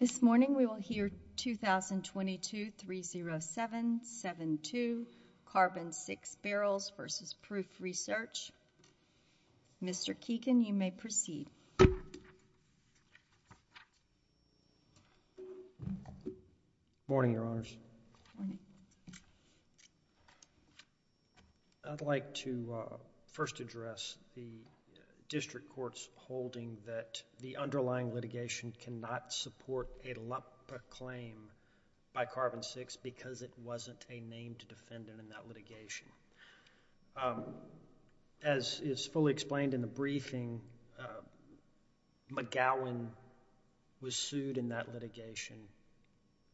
This morning we will hear 2022 3077 to carbon six barrels versus proof research Mr. Keegan you may proceed Morning your honors I'd like to first address the Delegation cannot support a lump claim by carbon six because it wasn't a named defendant in that litigation as Is fully explained in the briefing McGowan was sued in that litigation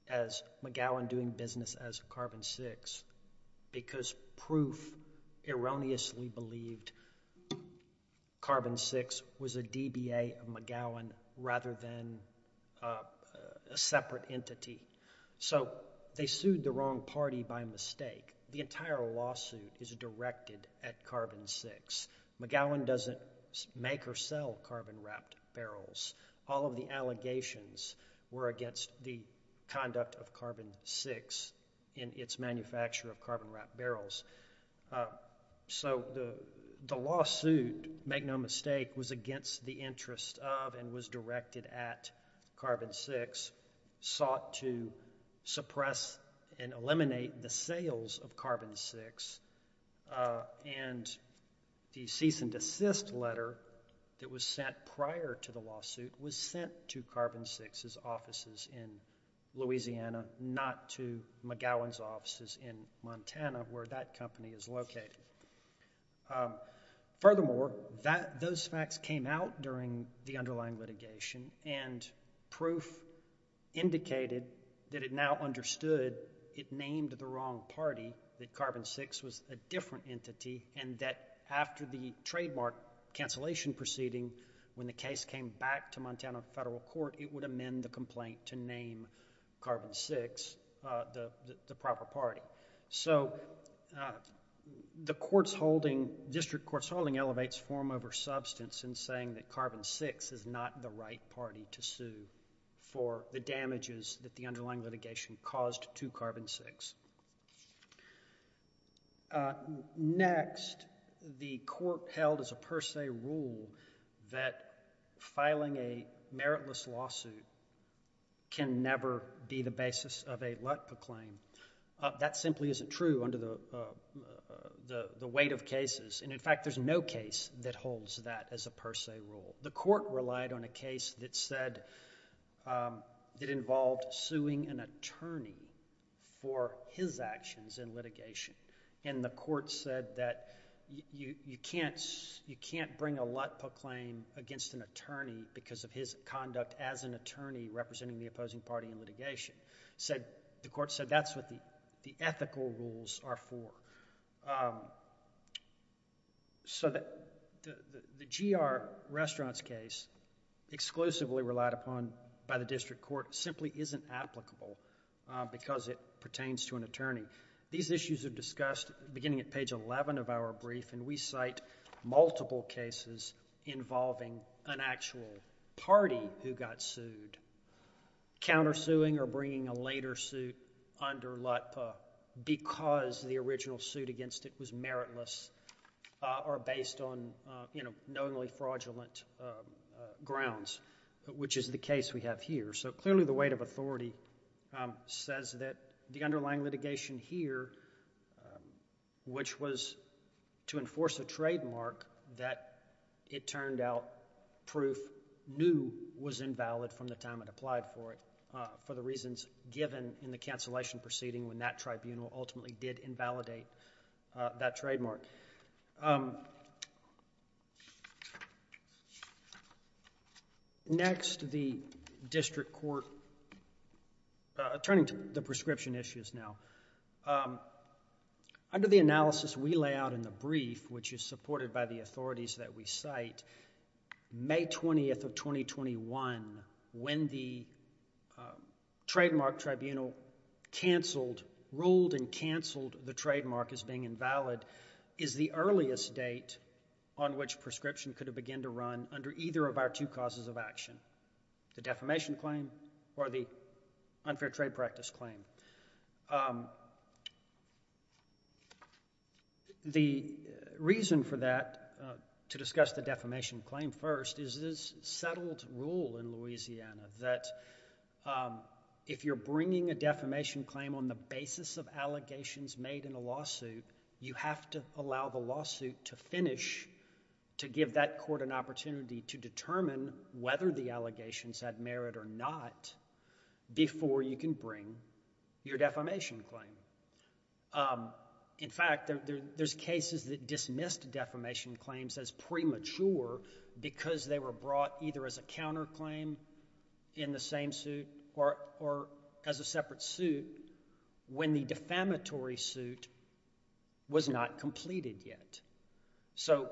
as McGowan doing business as a carbon six because proof erroneously believed Carbon six was a DBA of McGowan rather than a Separate entity, so they sued the wrong party by mistake The entire lawsuit is directed at carbon six McGowan doesn't make or sell carbon wrapped barrels all of the allegations were against the Conduct of carbon six in its manufacture of carbon wrapped barrels So the the lawsuit make no mistake was against the interest of and was directed at carbon six sought to suppress and eliminate the sales of carbon six and The cease and desist letter that was sent prior to the lawsuit was sent to carbon six's offices in Louisiana not to McGowan's offices in Montana where that company is located Furthermore that those facts came out during the underlying litigation and proof Indicated that it now understood It named the wrong party that carbon six was a different entity and that after the trademark Cancellation proceeding when the case came back to Montana federal court it would amend the complaint to name carbon six the the proper party, so The courts holding district courts holding elevates form over substance in saying that carbon six is not the right party to sue For the damages that the underlying litigation caused to carbon six Next the court held as a per se rule that filing a meritless lawsuit Can never be the basis of a lot proclaim that simply isn't true under the The weight of cases and in fact, there's no case that holds that as a per se rule the court relied on a case that said It involved suing an attorney for his actions in litigation and the court said that You can't you can't bring a lot proclaim against an attorney because of his conduct as an attorney Representing the opposing party in litigation said the court said that's what the the ethical rules are for So that the the GR restaurants case Exclusively relied upon by the district court simply isn't applicable Because it pertains to an attorney these issues are discussed beginning at page 11 of our brief and we cite multiple cases involving an actual Party who got sued Countersuing or bringing a later suit under lot because the original suit against it was meritless Are based on you know, knowingly fraudulent? Grounds which is the case we have here. So clearly the weight of authority Says that the underlying litigation here Which was to enforce a trademark that it turned out Proof knew was invalid from the time it applied for it for the reasons given in the cancellation proceeding when that Tribunal ultimately did invalidate that trademark Next the district court Turning to the prescription issues now Under the analysis we lay out in the brief which is supported by the authorities that we cite May 20th of 2021 when the Trademark tribunal Cancelled ruled and canceled the trademark as being invalid is the earliest date on which prescription could have begin to run under either of our two causes of action the defamation claim or the unfair trade practice claim The reason for that to discuss the defamation claim first is this settled rule in Louisiana that If you're bringing a defamation claim on the basis of allegations made in a lawsuit You have to allow the lawsuit to finish To give that court an opportunity to determine whether the allegations had merit or not Before you can bring your defamation claim In fact, there's cases that dismissed defamation claims as premature Because they were brought either as a counterclaim in the same suit or as a separate suit when the defamatory suit Was not completed yet So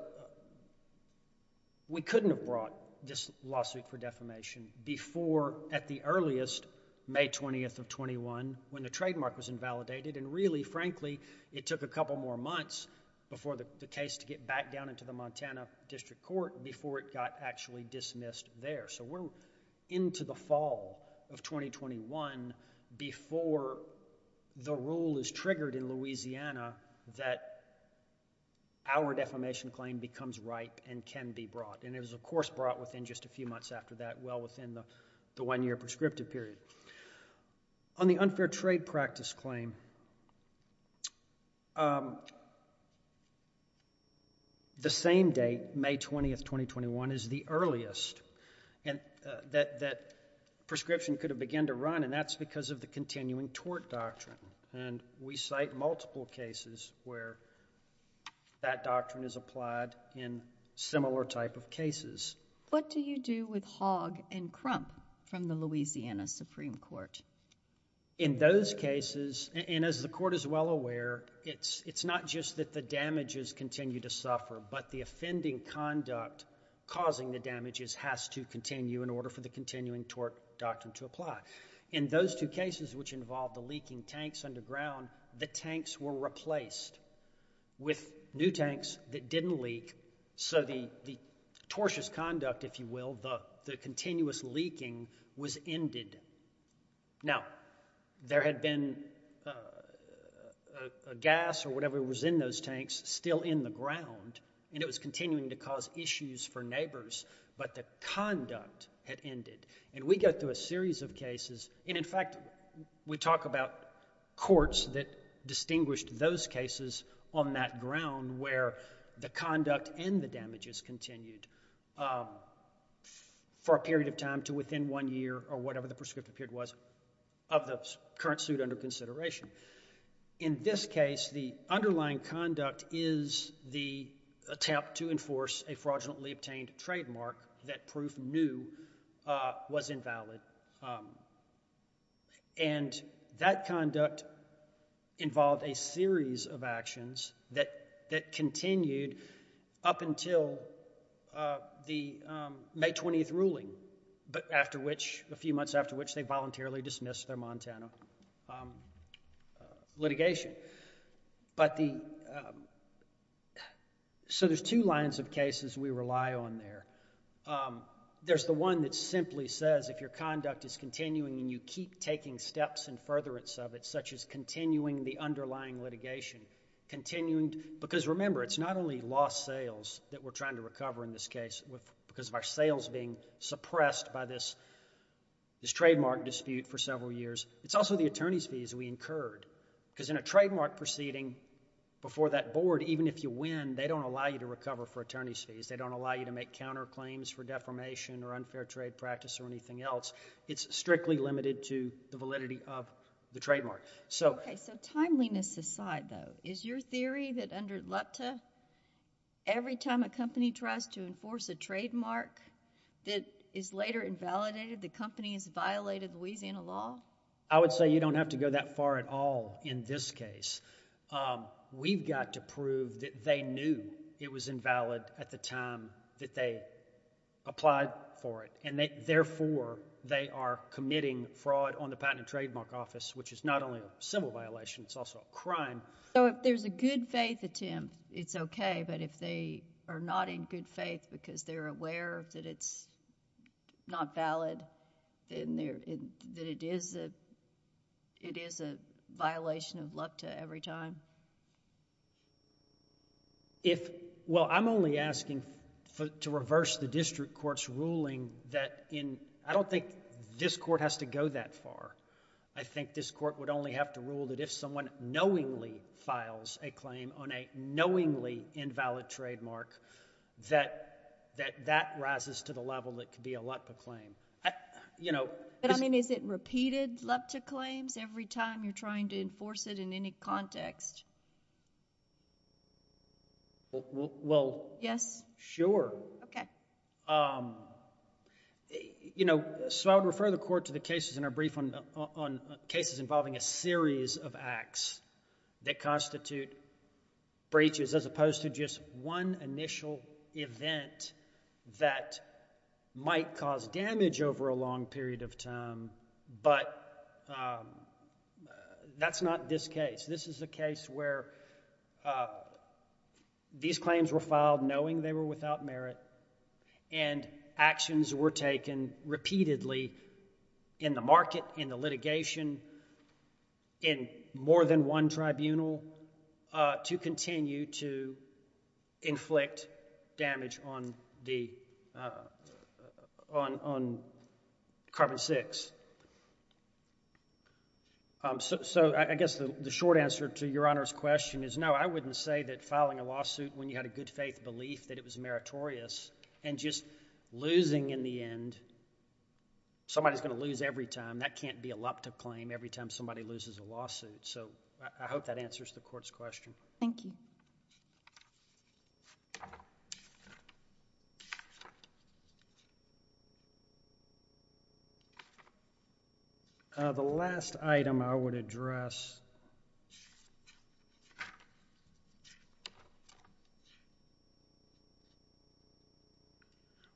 We couldn't have brought this lawsuit for defamation before at the earliest May 20th of 21 when the trademark was invalidated and really frankly It took a couple more months before the case to get back down into the Montana District Court before it got actually dismissed there. So we're into the fall of 2021 before the rule is triggered in Louisiana that Our defamation claim becomes ripe and can be brought and it was of course brought within just a few months after that well within the the one-year prescriptive period on the unfair trade practice claim The same date May 20th 2021 is the earliest and that that prescription could have began to run and that's because of the continuing tort doctrine and we cite multiple cases where That doctrine is applied in Similar type of cases. What do you do with hog and crump from the Louisiana Supreme Court? In those cases and as the court is well aware It's it's not just that the damages continue to suffer but the offending conduct Causing the damages has to continue in order for the continuing tort doctrine to apply in those two cases Which involved the leaking tanks underground the tanks were replaced with new tanks that didn't leak so the Tortious conduct if you will the the continuous leaking was ended now there had been Gas or whatever was in those tanks still in the ground and it was continuing to cause issues for neighbors But the conduct had ended and we got through a series of cases. And in fact, we talked about Courts that distinguished those cases on that ground where the conduct and the damages continued For a period of time to within one year or whatever the prescriptive period was of the current suit under consideration in this case the underlying conduct is the Attempt to enforce a fraudulently obtained trademark that proof knew was invalid and that conduct Involved a series of actions that that continued up until The May 20th ruling but after which a few months after which they voluntarily dismissed their Montana Litigation but the So there's two lines of cases we rely on there There's the one that simply says if your conduct is continuing and you keep taking steps and furtherance of it such as continuing the underlying litigation Continuing because remember it's not only lost sales that we're trying to recover in this case with because of our sales being suppressed by this This trademark dispute for several years. It's also the attorneys fees we incurred because in a trademark proceeding Before that board, even if you win, they don't allow you to recover for attorneys fees They don't allow you to make counterclaims for defamation or unfair trade practice or anything else It's strictly limited to the validity of the trademark. So Timeliness aside though is your theory that under LEPTA? Every time a company tries to enforce a trademark That is later invalidated. The company is violated Louisiana law. I would say you don't have to go that far at all in this case We've got to prove that they knew it was invalid at the time that they Applied for it and they therefore they are committing fraud on the Patent and Trademark Office, which is not only a civil violation It's also a crime. So if there's a good-faith attempt, it's okay but if they are not in good faith because they're aware that it's Not valid in there that it is that It is a violation of LEPTA every time If well, I'm only asking To reverse the district courts ruling that in I don't think this court has to go that far I think this court would only have to rule that if someone knowingly files a claim on a knowingly invalid trademark That that that rises to the level that could be a LEPTA claim You know, I mean is it repeated LEPTA claims every time you're trying to enforce it in any context Well, yes sure You know, so I would refer the court to the cases in our brief on cases involving a series of acts that constitute breaches as opposed to just one initial event that might cause damage over a long period of time, but That's not this case this is the case where These claims were filed knowing they were without merit and Actions were taken repeatedly in the market in the litigation in more than one tribunal to continue to inflict damage on the On carbon-6 So, I guess the short answer to your honor's question is no I wouldn't say that filing a lawsuit when you had a good-faith belief that it was meritorious and just losing in the end Somebody's gonna lose every time that can't be a LEPTA claim every time somebody loses a lawsuit So I hope that answers the court's question. Thank you The Last item I would address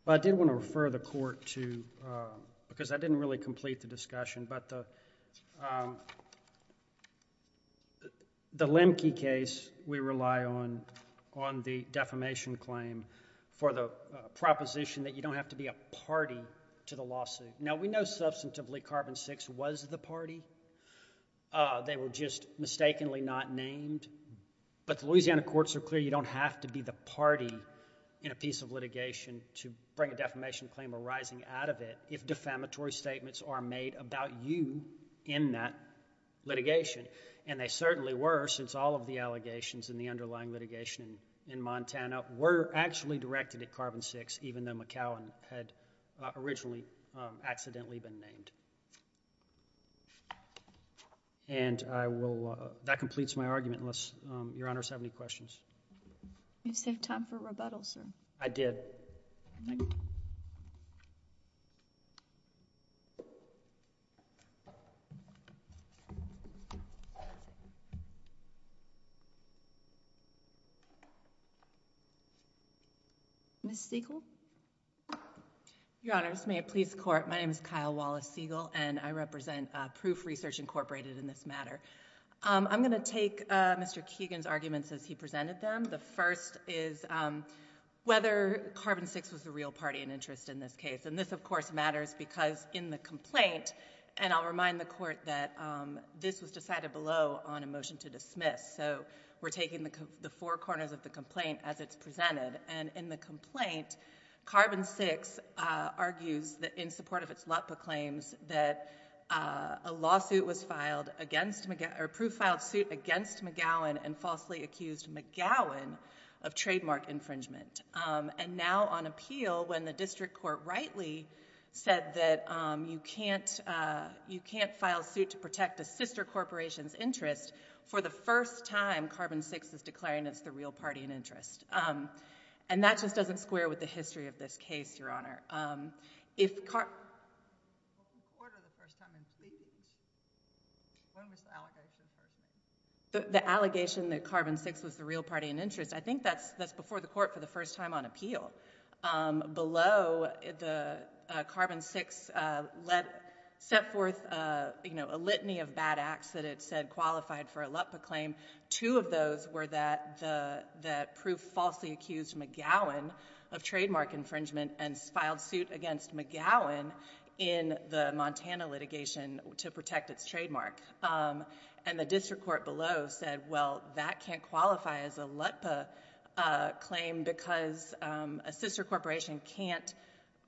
But I did want to refer the court to because I didn't really complete the discussion but The Lemke case we rely on on the defamation claim for the Party They were just mistakenly not named But the Louisiana courts are clear You don't have to be the party in a piece of litigation to bring a defamation claim arising out of it If defamatory statements are made about you in that Litigation and they certainly were since all of the allegations in the underlying litigation in Montana We're actually directed at carbon-6 even though McAllen had originally accidentally been named And I will that completes my argument unless your honors have any questions You save time for rebuttal sir. I did Miss Siegel Your honors may it please the court. My name is Kyle Wallace Siegel and I represent proof research incorporated in this matter I'm gonna take mr. Keegan's arguments as he presented them. The first is Whether carbon-6 was the real party in interest in this case and this of course matters because in the complaint and I'll remind the court That this was decided below on a motion to dismiss So we're taking the four corners of the complaint as it's presented and in the complaint carbon-6 argues that in support of its LEPA claims that a Lawsuit was filed against McGuire proof filed suit against McGowan and falsely accused McGowan of trademark infringement And now on appeal when the district court rightly said that you can't You can't file suit to protect a sister corporations interest for the first time carbon-6 is declaring It's the real party in interest and that just doesn't square with the history of this case your honor if The allegation that carbon-6 was the real party in interest. I think that's that's before the court for the first time on appeal below the carbon-6 Let set forth, you know a litany of bad acts that it said qualified for a LEPA claim Two of those were that the that proof falsely accused McGowan of trademark infringement and filed suit against McGowan In the Montana litigation to protect its trademark And the district court below said well that can't qualify as a LEPA claim because a sister corporation can't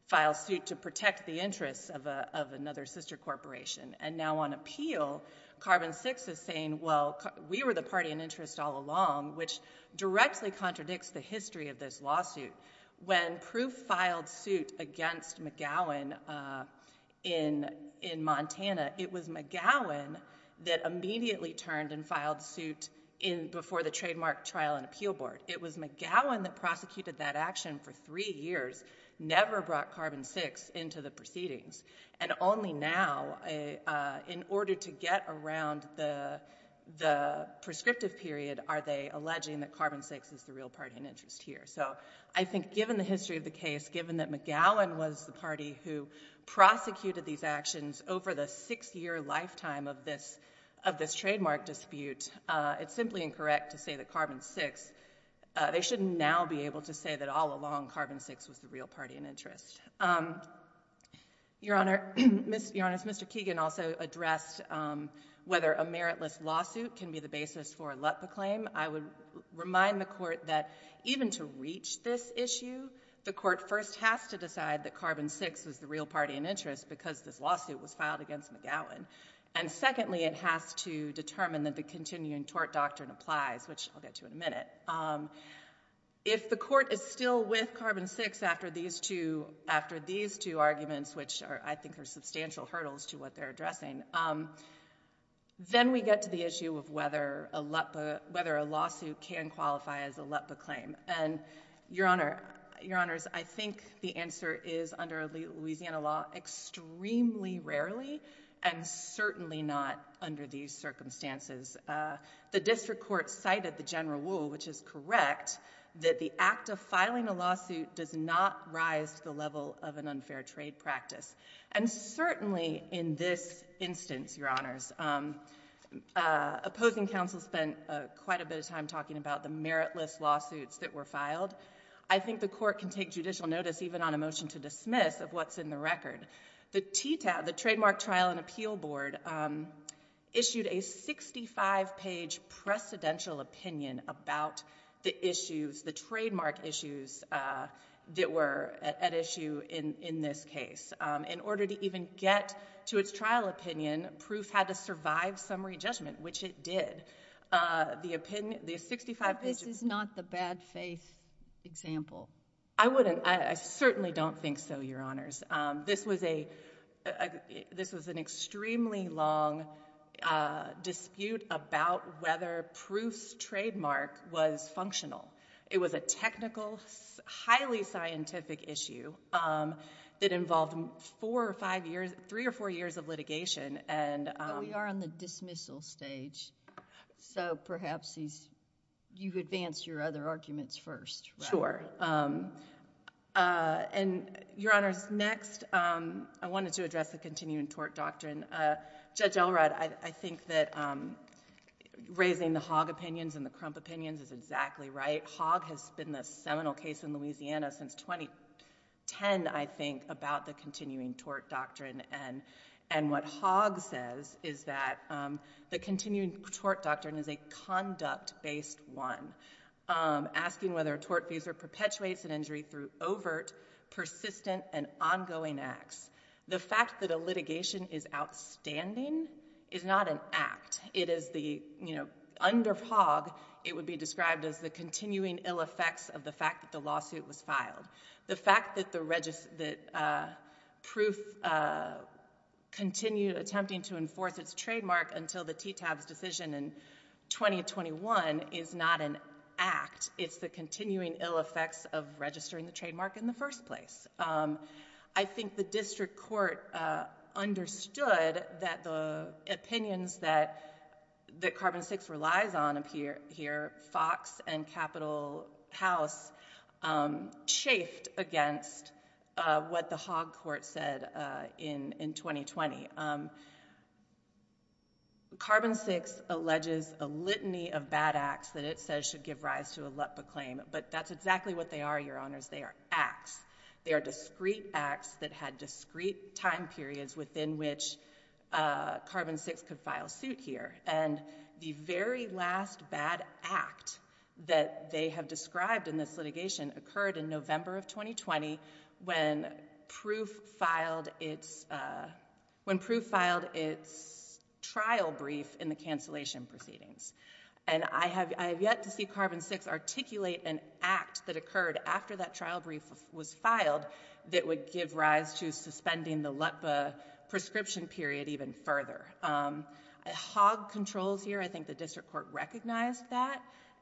File suit to protect the interests of another sister corporation and now on appeal Carbon-6 is saying well, we were the party in interest all along which directly contradicts the history of this lawsuit when proof filed suit against McGowan in In Montana, it was McGowan that immediately turned and filed suit in before the trademark trial and appeal board It was McGowan that prosecuted that action for three years never brought carbon-6 into the proceedings and only now in order to get around the The prescriptive period are they alleging that carbon-6 is the real party in interest here? so I think given the history of the case given that McGowan was the party who Prosecuted these actions over the six-year lifetime of this of this trademark dispute It's simply incorrect to say that carbon-6 They shouldn't now be able to say that all along carbon-6 was the real party in interest Your honor mr. Keegan also addressed Whether a meritless lawsuit can be the basis for a LEPA claim I would remind the court that even to reach this issue the court first has to decide that carbon-6 was the real party in interest because this lawsuit was filed against McGowan and continuing tort doctrine applies, which I'll get to in a minute If the court is still with carbon-6 after these two after these two arguments, which are I think are substantial hurdles to what they're addressing Then we get to the issue of whether a LEPA whether a lawsuit can qualify as a LEPA claim and Your honor your honors. I think the answer is under Louisiana law extremely rarely and Certainly not under these circumstances the district court cited the general rule which is correct that the act of filing a lawsuit does not rise to the level of an unfair trade practice and certainly in this instance your honors Opposing counsel spent quite a bit of time talking about the meritless lawsuits that were filed I think the court can take judicial notice even on a motion to dismiss of what's in the record the TTAB the trademark trial and appeal board Issued a 65 page precedential opinion about the issues the trademark issues That were at issue in in this case in order to even get to its trial opinion Proof had to survive summary judgment, which it did The opinion these 65 pages is not the bad-faith Example, I wouldn't I certainly don't think so. Your honors. This was a This was an extremely long Dispute about whether proofs trademark was functional. It was a technical highly scientific issue That involved four or five years three or four years of litigation and we are on the dismissal stage So perhaps these you advance your other arguments first. Sure And your honors next I wanted to address the continuing tort doctrine judge Elrod, I think that Raising the hog opinions and the crump opinions is exactly right hog has been the seminal case in Louisiana since 2010 I think about the continuing tort doctrine and and what hog says is that The continuing tort doctrine is a conduct based one Asking whether a tort visa perpetuates an injury through overt persistent and ongoing acts the fact that a litigation is Outstanding is not an act. It is the you know under fog It would be described as the continuing ill effects of the fact that the lawsuit was filed the fact that the register that proof Continued attempting to enforce its trademark until the t-tabs decision in 2021 is not an act. It's the continuing ill effects of registering the trademark in the first place. I think the district court understood that the Opinions that the carbon six relies on appear here Fox and Capitol House chafed against What the hog court said in in 2020? Carbon six Alleges a litany of bad acts that it says should give rise to a lump of claim But that's exactly what they are your honors. They are acts. They are discreet acts that had discreet time periods within which Carbon six could file suit here and the very last bad act That they have described in this litigation occurred in November of 2020 when? proof filed its When proof filed its trial brief in the cancellation proceedings And I have yet to see carbon six articulate an act that occurred after that trial brief was filed That would give rise to suspending the let the prescription period even further hog controls here, I think the district court recognized that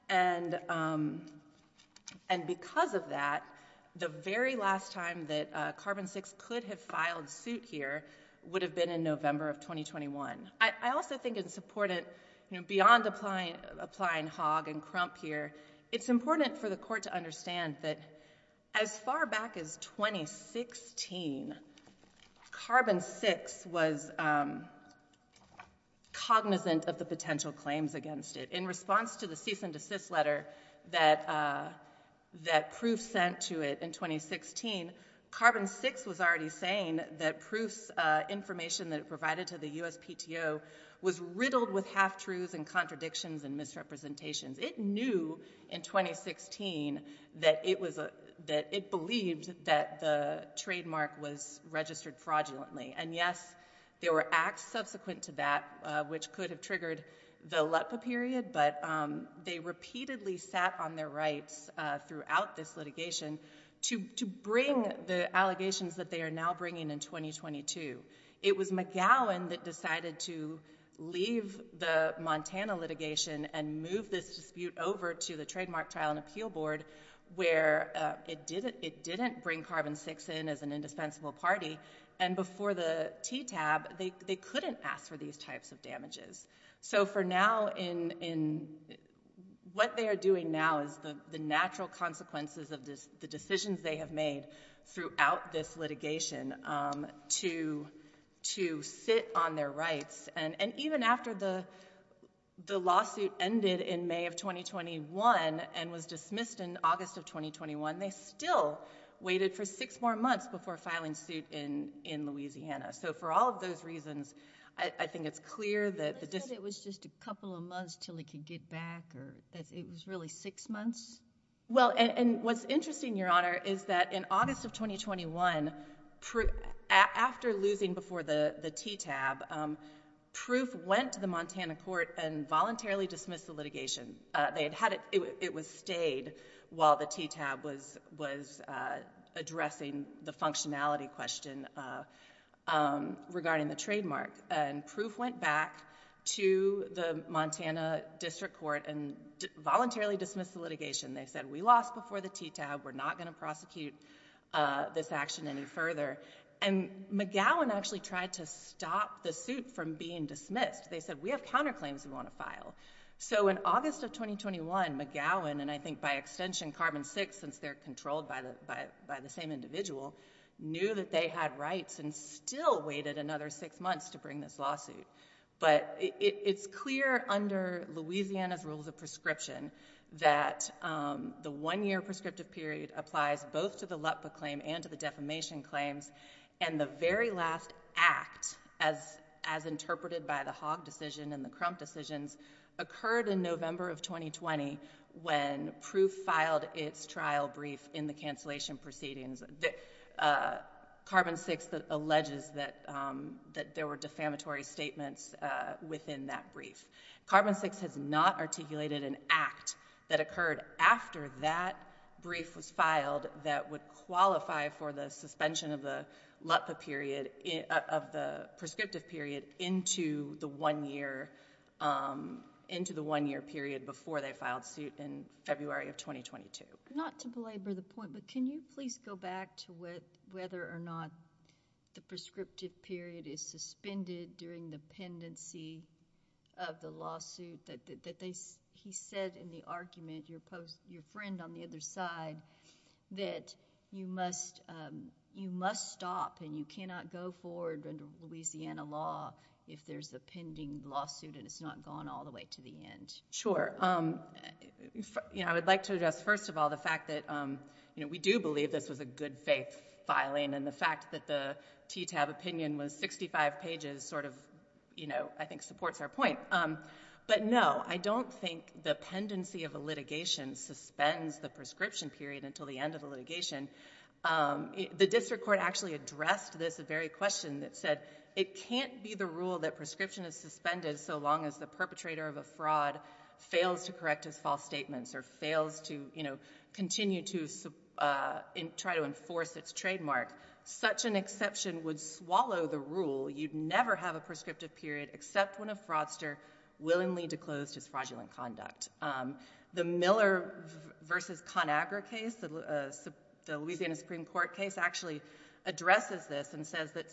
and and Because of that the very last time that carbon six could have filed suit here would have been in November of 2021 I also think it's important, you know beyond applying applying hog and crump here It's important for the court to understand that as far back as 2016 carbon six was Cognizant of the potential claims against it in response to the cease and desist letter that That proof sent to it in 2016 carbon six was already saying that proofs Information that it provided to the USPTO was riddled with half-truths and contradictions and misrepresentations it knew in 2016 that it was a that it believed that the trademark was registered fraudulently and yes there were acts subsequent to that which could have triggered the let the period but They repeatedly sat on their rights throughout this litigation To bring the allegations that they are now bringing in 2022 It was McGowan that decided to leave the Montana litigation and move this dispute over to the trademark trial and appeal board where it did it didn't bring carbon six in as an indispensable party and Before the t-tab they couldn't ask for these types of damages. So for now in in What they are doing now is the the natural consequences of this the decisions they have made throughout this litigation to to sit on their rights and and even after the The lawsuit ended in May of 2021 and was dismissed in August of 2021 They still waited for six more months before filing suit in in Louisiana So for all of those reasons, I think it's clear that it was just a couple of months till he could get back Or that's it was really six months. Well, and and what's interesting your honor is that in August of 2021? After losing before the the t-tab Proof went to the Montana court and voluntarily dismissed the litigation. They had had it. It was stayed while the t-tab was was addressing the functionality question Regarding the trademark and proof went back to the Montana District Court and Voluntarily dismissed the litigation. They said we lost before the t-tab. We're not going to prosecute this action any further and McGowan actually tried to stop the suit from being dismissed. They said we have counterclaims we want to file So in August of 2021 McGowan and I think by extension carbon-6 since they're controlled by the by the same individual Knew that they had rights and still waited another six months to bring this lawsuit but it's clear under Louisiana's rules of prescription that the one-year prescriptive period applies both to the LEPA claim and to the defamation claims and the very last act as as interpreted by the hog decision and the crump decisions occurred in November of 2020 when Proof filed its trial brief in the cancellation proceedings Carbon-6 that alleges that That there were defamatory statements within that brief Carbon-6 has not articulated an act that occurred after that brief was filed that would qualify for the suspension of the LEPA period of the prescriptive period into the one year Into the one-year period before they filed suit in February of 2022 not to belabor the point But can you please go back to what whether or not? the prescriptive period is suspended during the pendency of The lawsuit that they he said in the argument your post your friend on the other side that you must You must stop and you cannot go forward under Louisiana law if there's a pending lawsuit And it's not gone all the way to the end. Sure You know, I would like to address first of all the fact that you know We do believe this was a good faith filing and the fact that the t-tab opinion was 65 pages sort of You know, I think supports our point But no, I don't think the pendency of a litigation Suspends the prescription period until the end of the litigation The district court actually addressed this a very question that said it can't be the rule that prescription is suspended So long as the perpetrator of a fraud fails to correct his false statements or fails to you know continue to Try to enforce its trademark such an exception would swallow the rule You'd never have a prescriptive period except when a fraudster willingly declosed his fraudulent conduct the Miller versus Conagra case the Louisiana Supreme Court case actually Addresses this and says that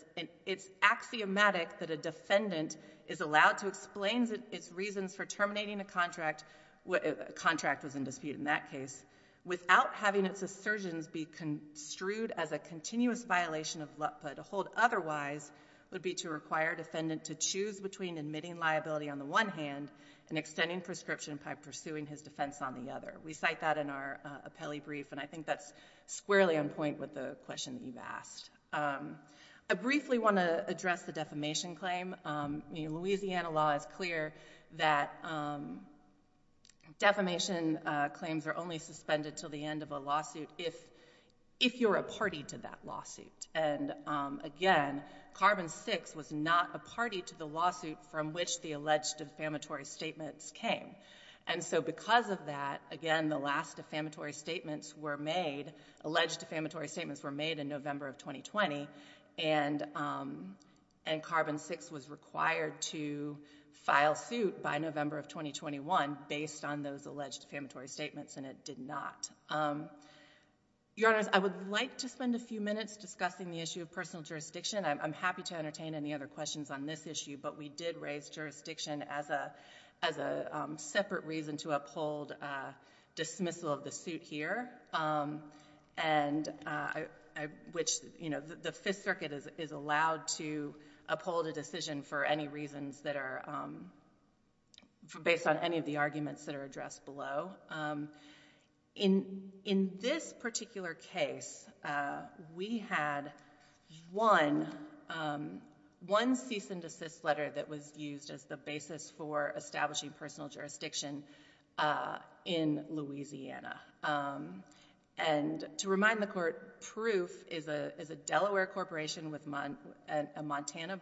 it's axiomatic that a defendant is allowed to explain its reasons for terminating a contract What a contract was in dispute in that case without having its assertions be? construed as a continuous violation of Lutper to hold Otherwise would be to require defendant to choose between admitting liability on the one hand and extending prescription by pursuing his defense on The other we cite that in our appellee brief, and I think that's squarely on point with the question that you've asked I briefly want to address the defamation claim Louisiana law is clear that Defamation claims are only suspended till the end of a lawsuit if if you're a party to that lawsuit and Again, carbon six was not a party to the lawsuit from which the alleged defamatory statements came and so because of that again, the last defamatory statements were made alleged defamatory statements were made in November of 2020 and and carbon six was required to File suit by November of 2021 based on those alleged defamatory statements, and it did not Your honors, I would like to spend a few minutes discussing the issue of personal jurisdiction I'm happy to entertain any other questions on this issue, but we did raise jurisdiction as a as a separate reason to uphold dismissal of the suit here and Which you know, the Fifth Circuit is allowed to uphold a decision for any reasons that are Based on any of the arguments that are addressed below in in this particular case we had one One cease-and-desist letter that was used as the basis for establishing personal jurisdiction in Louisiana and To remind the court proof is a Delaware corporation with month and a Montana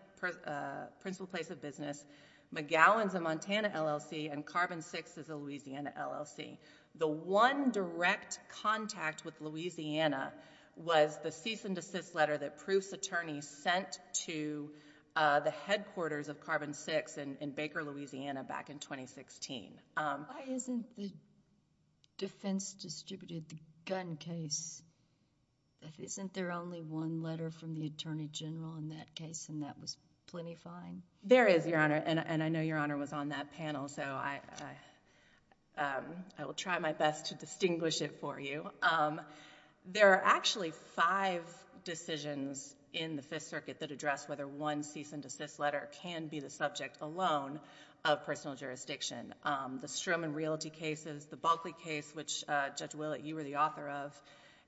principal place of business McGowan's a Montana LLC and carbon six is a Louisiana LLC the one direct contact with Louisiana Was the cease-and-desist letter that proofs attorney sent to the headquarters of carbon six and in Baker, Louisiana back in 2016 Defense distributed the gun case Isn't there only one letter from the Attorney General in that case and that was plenty fine There is your honor and I know your honor was on that panel. So I I will try my best to distinguish it for you There are actually five decisions in the Fifth Circuit that address whether one cease-and-desist letter can be the subject alone of personal jurisdiction the Strum and realty cases the Bulkley case which judge Willett you were the author of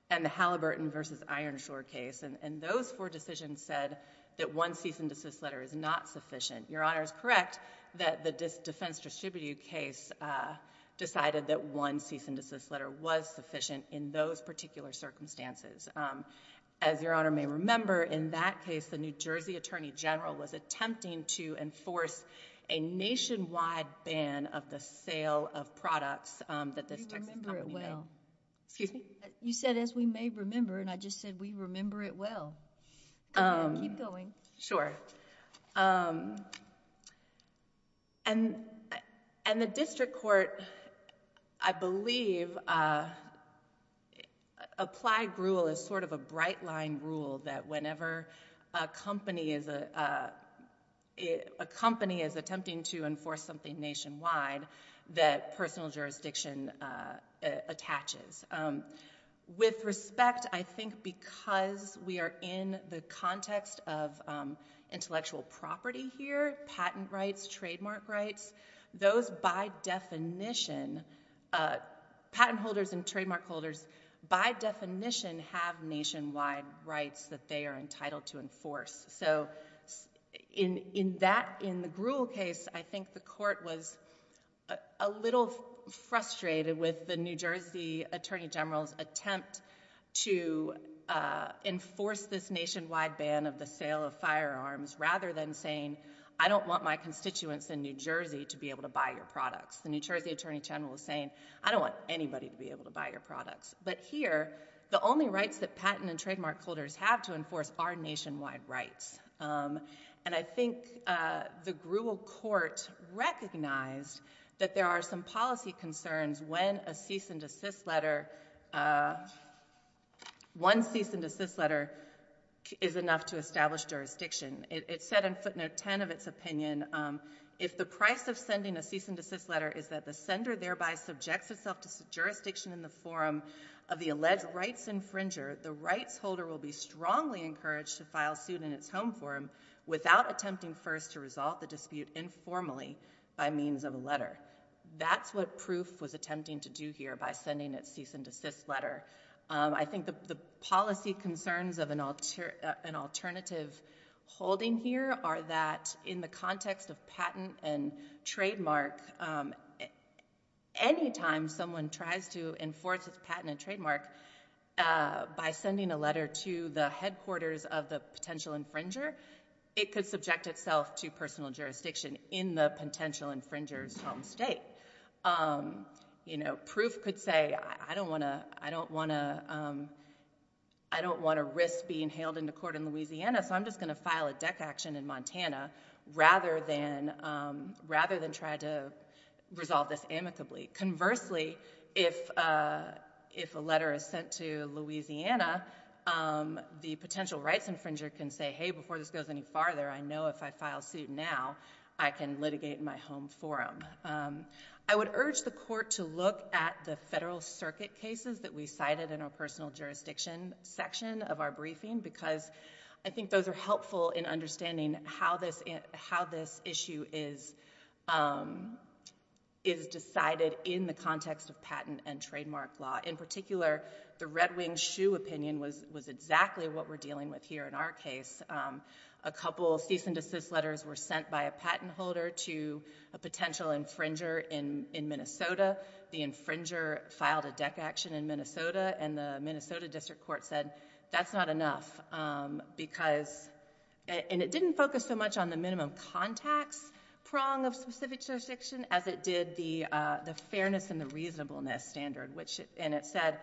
and The Halliburton versus Ironshore case and those four decisions said that one cease-and-desist letter is not sufficient Your honor is correct that the defense distributed case Decided that one cease-and-desist letter was sufficient in those particular circumstances as your honor may remember in that case the New Jersey Attorney General was attempting to enforce a nationwide ban of the sale of products that this Excuse me. You said as we may remember and I just said we remember it. Well, I'm going sure And And the district court, I believe Applied gruel is sort of a bright-line rule that whenever a company is a Company is attempting to enforce something nationwide that personal jurisdiction attaches with respect I think because we are in the context of Trademark rights those by definition patent holders and trademark holders by definition have nationwide rights that they are entitled to enforce so In in that in the gruel case. I think the court was a little frustrated with the New Jersey Attorney General's attempt to Enforce this nationwide ban of the sale of firearms rather than saying I don't want my constituents in New Jersey to be able to buy Your products the New Jersey Attorney General is saying I don't want anybody to be able to buy your products But here the only rights that patent and trademark holders have to enforce our nationwide rights and I think the gruel court Recognized that there are some policy concerns when a cease-and-desist letter One cease-and-desist letter is enough to establish jurisdiction It's said in footnote 10 of its opinion If the price of sending a cease-and-desist letter is that the sender thereby subjects itself to jurisdiction in the forum of the alleged Rights infringer the rights holder will be strongly encouraged to file suit in its home forum without attempting first to resolve the dispute Informally by means of a letter. That's what proof was attempting to do here by sending its cease-and-desist letter Letter I think the policy concerns of an altar an alternative holding here are that in the context of patent and trademark Anytime someone tries to enforce its patent and trademark By sending a letter to the headquarters of the potential infringer It could subject itself to personal jurisdiction in the potential infringers home state You know proof could say I don't want to I don't want to I Don't want to risk being hailed into court in Louisiana. So I'm just going to file a deck action in Montana rather than rather than try to resolve this amicably conversely if If a letter is sent to Louisiana The potential rights infringer can say hey before this goes any farther I know if I file suit now I can litigate in my home forum I would urge the court to look at the Federal Circuit cases that we cited in our personal jurisdiction section of our briefing because I think those are helpful in understanding how this is how this issue is is Decided in the context of patent and trademark law in particular the Red Wing shoe opinion was was exactly what we're dealing with here in our case a Potential infringer in in Minnesota the infringer filed a deck action in Minnesota and the Minnesota District Court said That's not enough because and it didn't focus so much on the minimum contacts prong of specific jurisdiction as it did the fairness and the reasonableness standard which and it said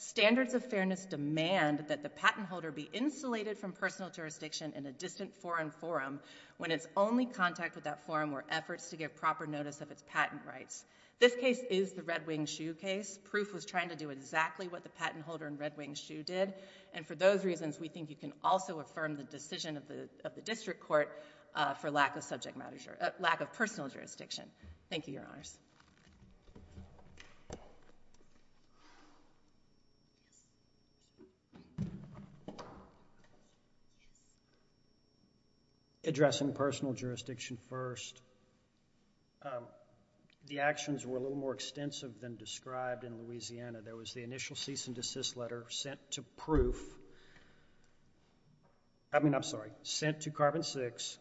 Standards of fairness demand that the patent holder be insulated from personal jurisdiction in a distant foreign forum When it's only contact with that forum or efforts to give proper notice of its patent rights This case is the Red Wing shoe case proof was trying to do exactly what the patent holder in Red Wing shoe did and for Those reasons we think you can also affirm the decision of the of the District Court For lack of subject matter lack of personal jurisdiction. Thank you your honors I Address in personal jurisdiction first The actions were a little more extensive than described in Louisiana there was the initial cease and desist letter sent to proof I Mean I'm sorry sent to carbon-6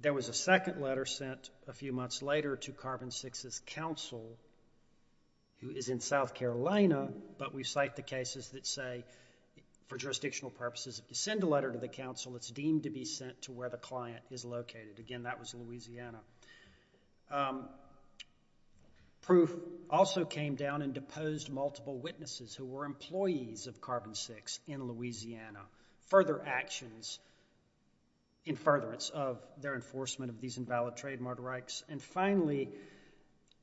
There was a second letter sent a few months later to carbon-6 as counsel Who is in South Carolina, but we cite the cases that say For jurisdictional purposes if you send a letter to the council, it's deemed to be sent to where the client is located again That was in Louisiana Proof also came down and deposed multiple witnesses who were employees of carbon-6 in Louisiana further actions in furtherance of their enforcement of these invalid trademark rights and finally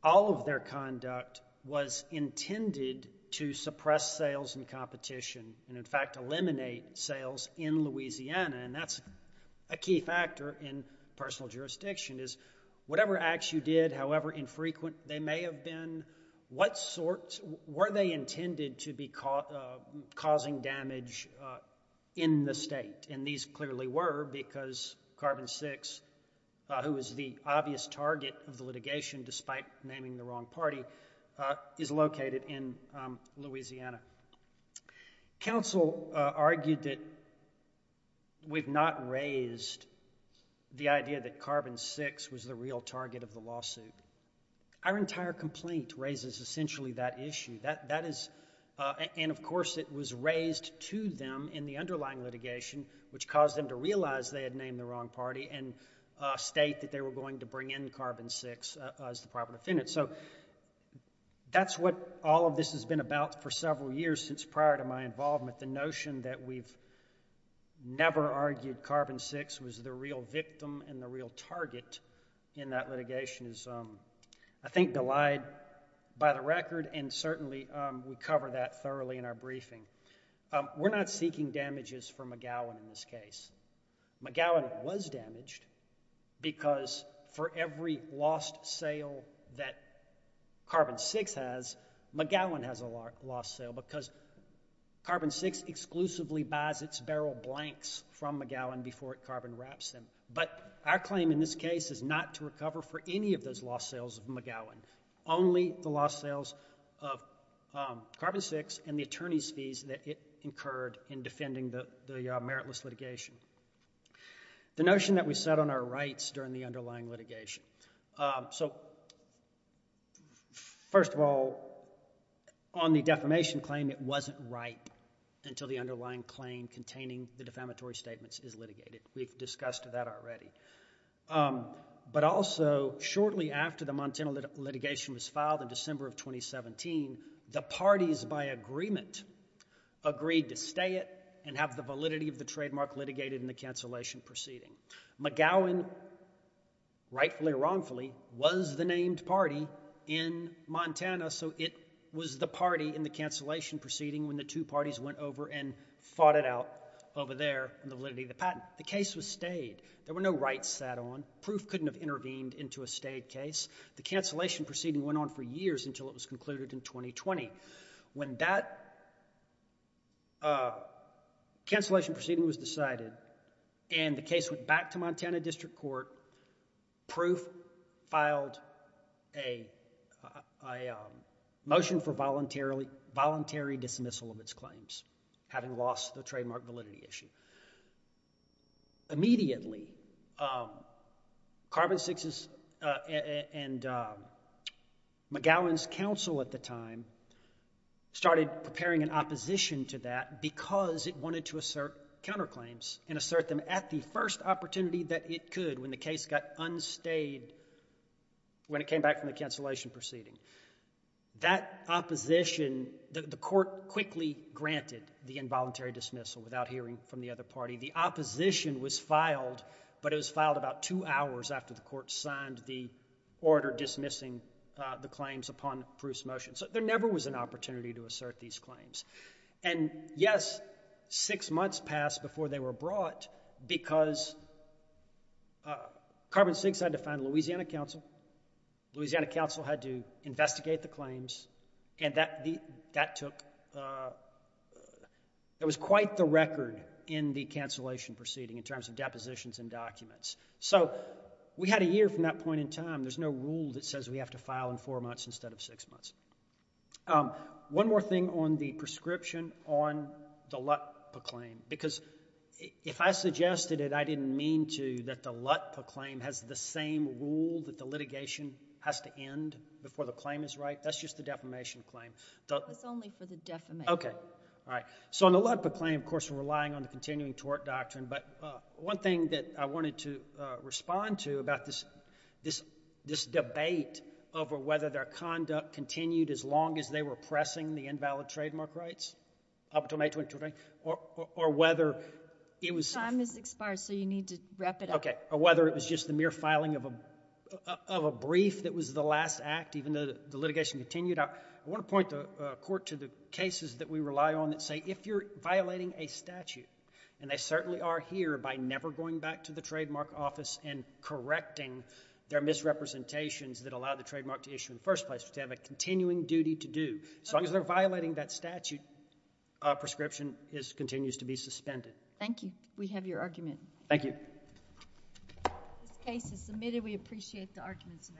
All of their conduct was Intended to suppress sales and competition and in fact eliminate sales in Louisiana And that's a key factor in personal jurisdiction is whatever acts you did however infrequent They may have been what sorts were they intended to be caught causing damage In the state and these clearly were because carbon-6 Who is the obvious target of the litigation despite naming the wrong party is located in? Louisiana council argued that We've not raised The idea that carbon-6 was the real target of the lawsuit Our entire complaint raises essentially that issue that that is and of course it was raised to them in the underlying litigation which caused them to realize they had named the wrong party and state that they were going to bring in carbon-6 as the proper defendant, so that's what all of this has been about for several years since prior to my involvement the notion that we've Never argued carbon-6 was the real victim and the real target in that litigation is um I think delighted by the record and certainly we cover that thoroughly in our briefing We're not seeking damages from McGowan in this case McGowan was damaged because for every lost sale that carbon-6 has McGowan has a lot lost sale because Carbon-6 exclusively buys its barrel blanks from McGowan before it carbon wraps them but our claim in this case is not to recover for any of those lost sales of McGowan only the lost sales of Carbon-6 and the attorneys fees that it incurred in defending the meritless litigation the notion that we set on our rights during the underlying litigation, so First of all on The defamation claim it wasn't right until the underlying claim containing the defamatory statements is litigated. We've discussed that already But also shortly after the Montana litigation was filed in December of 2017 the parties by agreement Agreed to stay it and have the validity of the trademark litigated in the cancellation proceeding McGowan Rightfully wrongfully was the named party in Montana, so it was the party in the cancellation proceeding when the two parties went over and fought it out over there The validity of the patent the case was stayed there were no rights sat on proof couldn't have intervened into a state case The cancellation proceeding went on for years until it was concluded in 2020 when that a Cancellation proceeding was decided and the case went back to Montana District Court proof filed a Motion for voluntarily voluntary dismissal of its claims having lost the trademark validity issue Immediately Carbon-6 and McGowan's counsel at the time Started preparing an opposition to that because it wanted to assert counterclaims and assert them at the first Opportunity that it could when the case got unstayed When it came back from the cancellation proceeding that Opposition the court quickly granted the involuntary dismissal without hearing from the other party the opposition was filed But it was filed about two hours after the court signed the order dismissing the claims upon proofs motion so there never was an opportunity to assert these claims and yes, six months passed before they were brought because Carbon-6 had to find Louisiana Council Louisiana Council had to investigate the claims and that the that took It was quite the record in the cancellation proceeding in terms of depositions and documents So we had a year from that point in time There's no rule that says we have to file in four months instead of six months one more thing on the prescription on the Lutper claim because If I suggested it I didn't mean to that the Lutper claim has the same rule that the litigation has to end before the claim is right That's just the defamation claim. It's only for the defamation. Okay. All right So on the Lutper claim, of course, we're relying on the continuing tort doctrine But one thing that I wanted to respond to about this this this debate Over whether their conduct continued as long as they were pressing the invalid trademark rights up to May 23 Or whether it was time is expired. So you need to wrap it up Okay, or whether it was just the mere filing of a of a brief that was the last act even though the litigation continued I want to point the court to the cases that we rely on that say if you're violating a statute and they certainly are here by never going back to the trademark office and correcting their Misrepresentations that allow the trademark to issue in the first place to have a continuing duty to do as long as they're violating that statute Prescription is continues to be suspended. Thank you. We have your argument. Thank you This case is submitted. We appreciate the arguments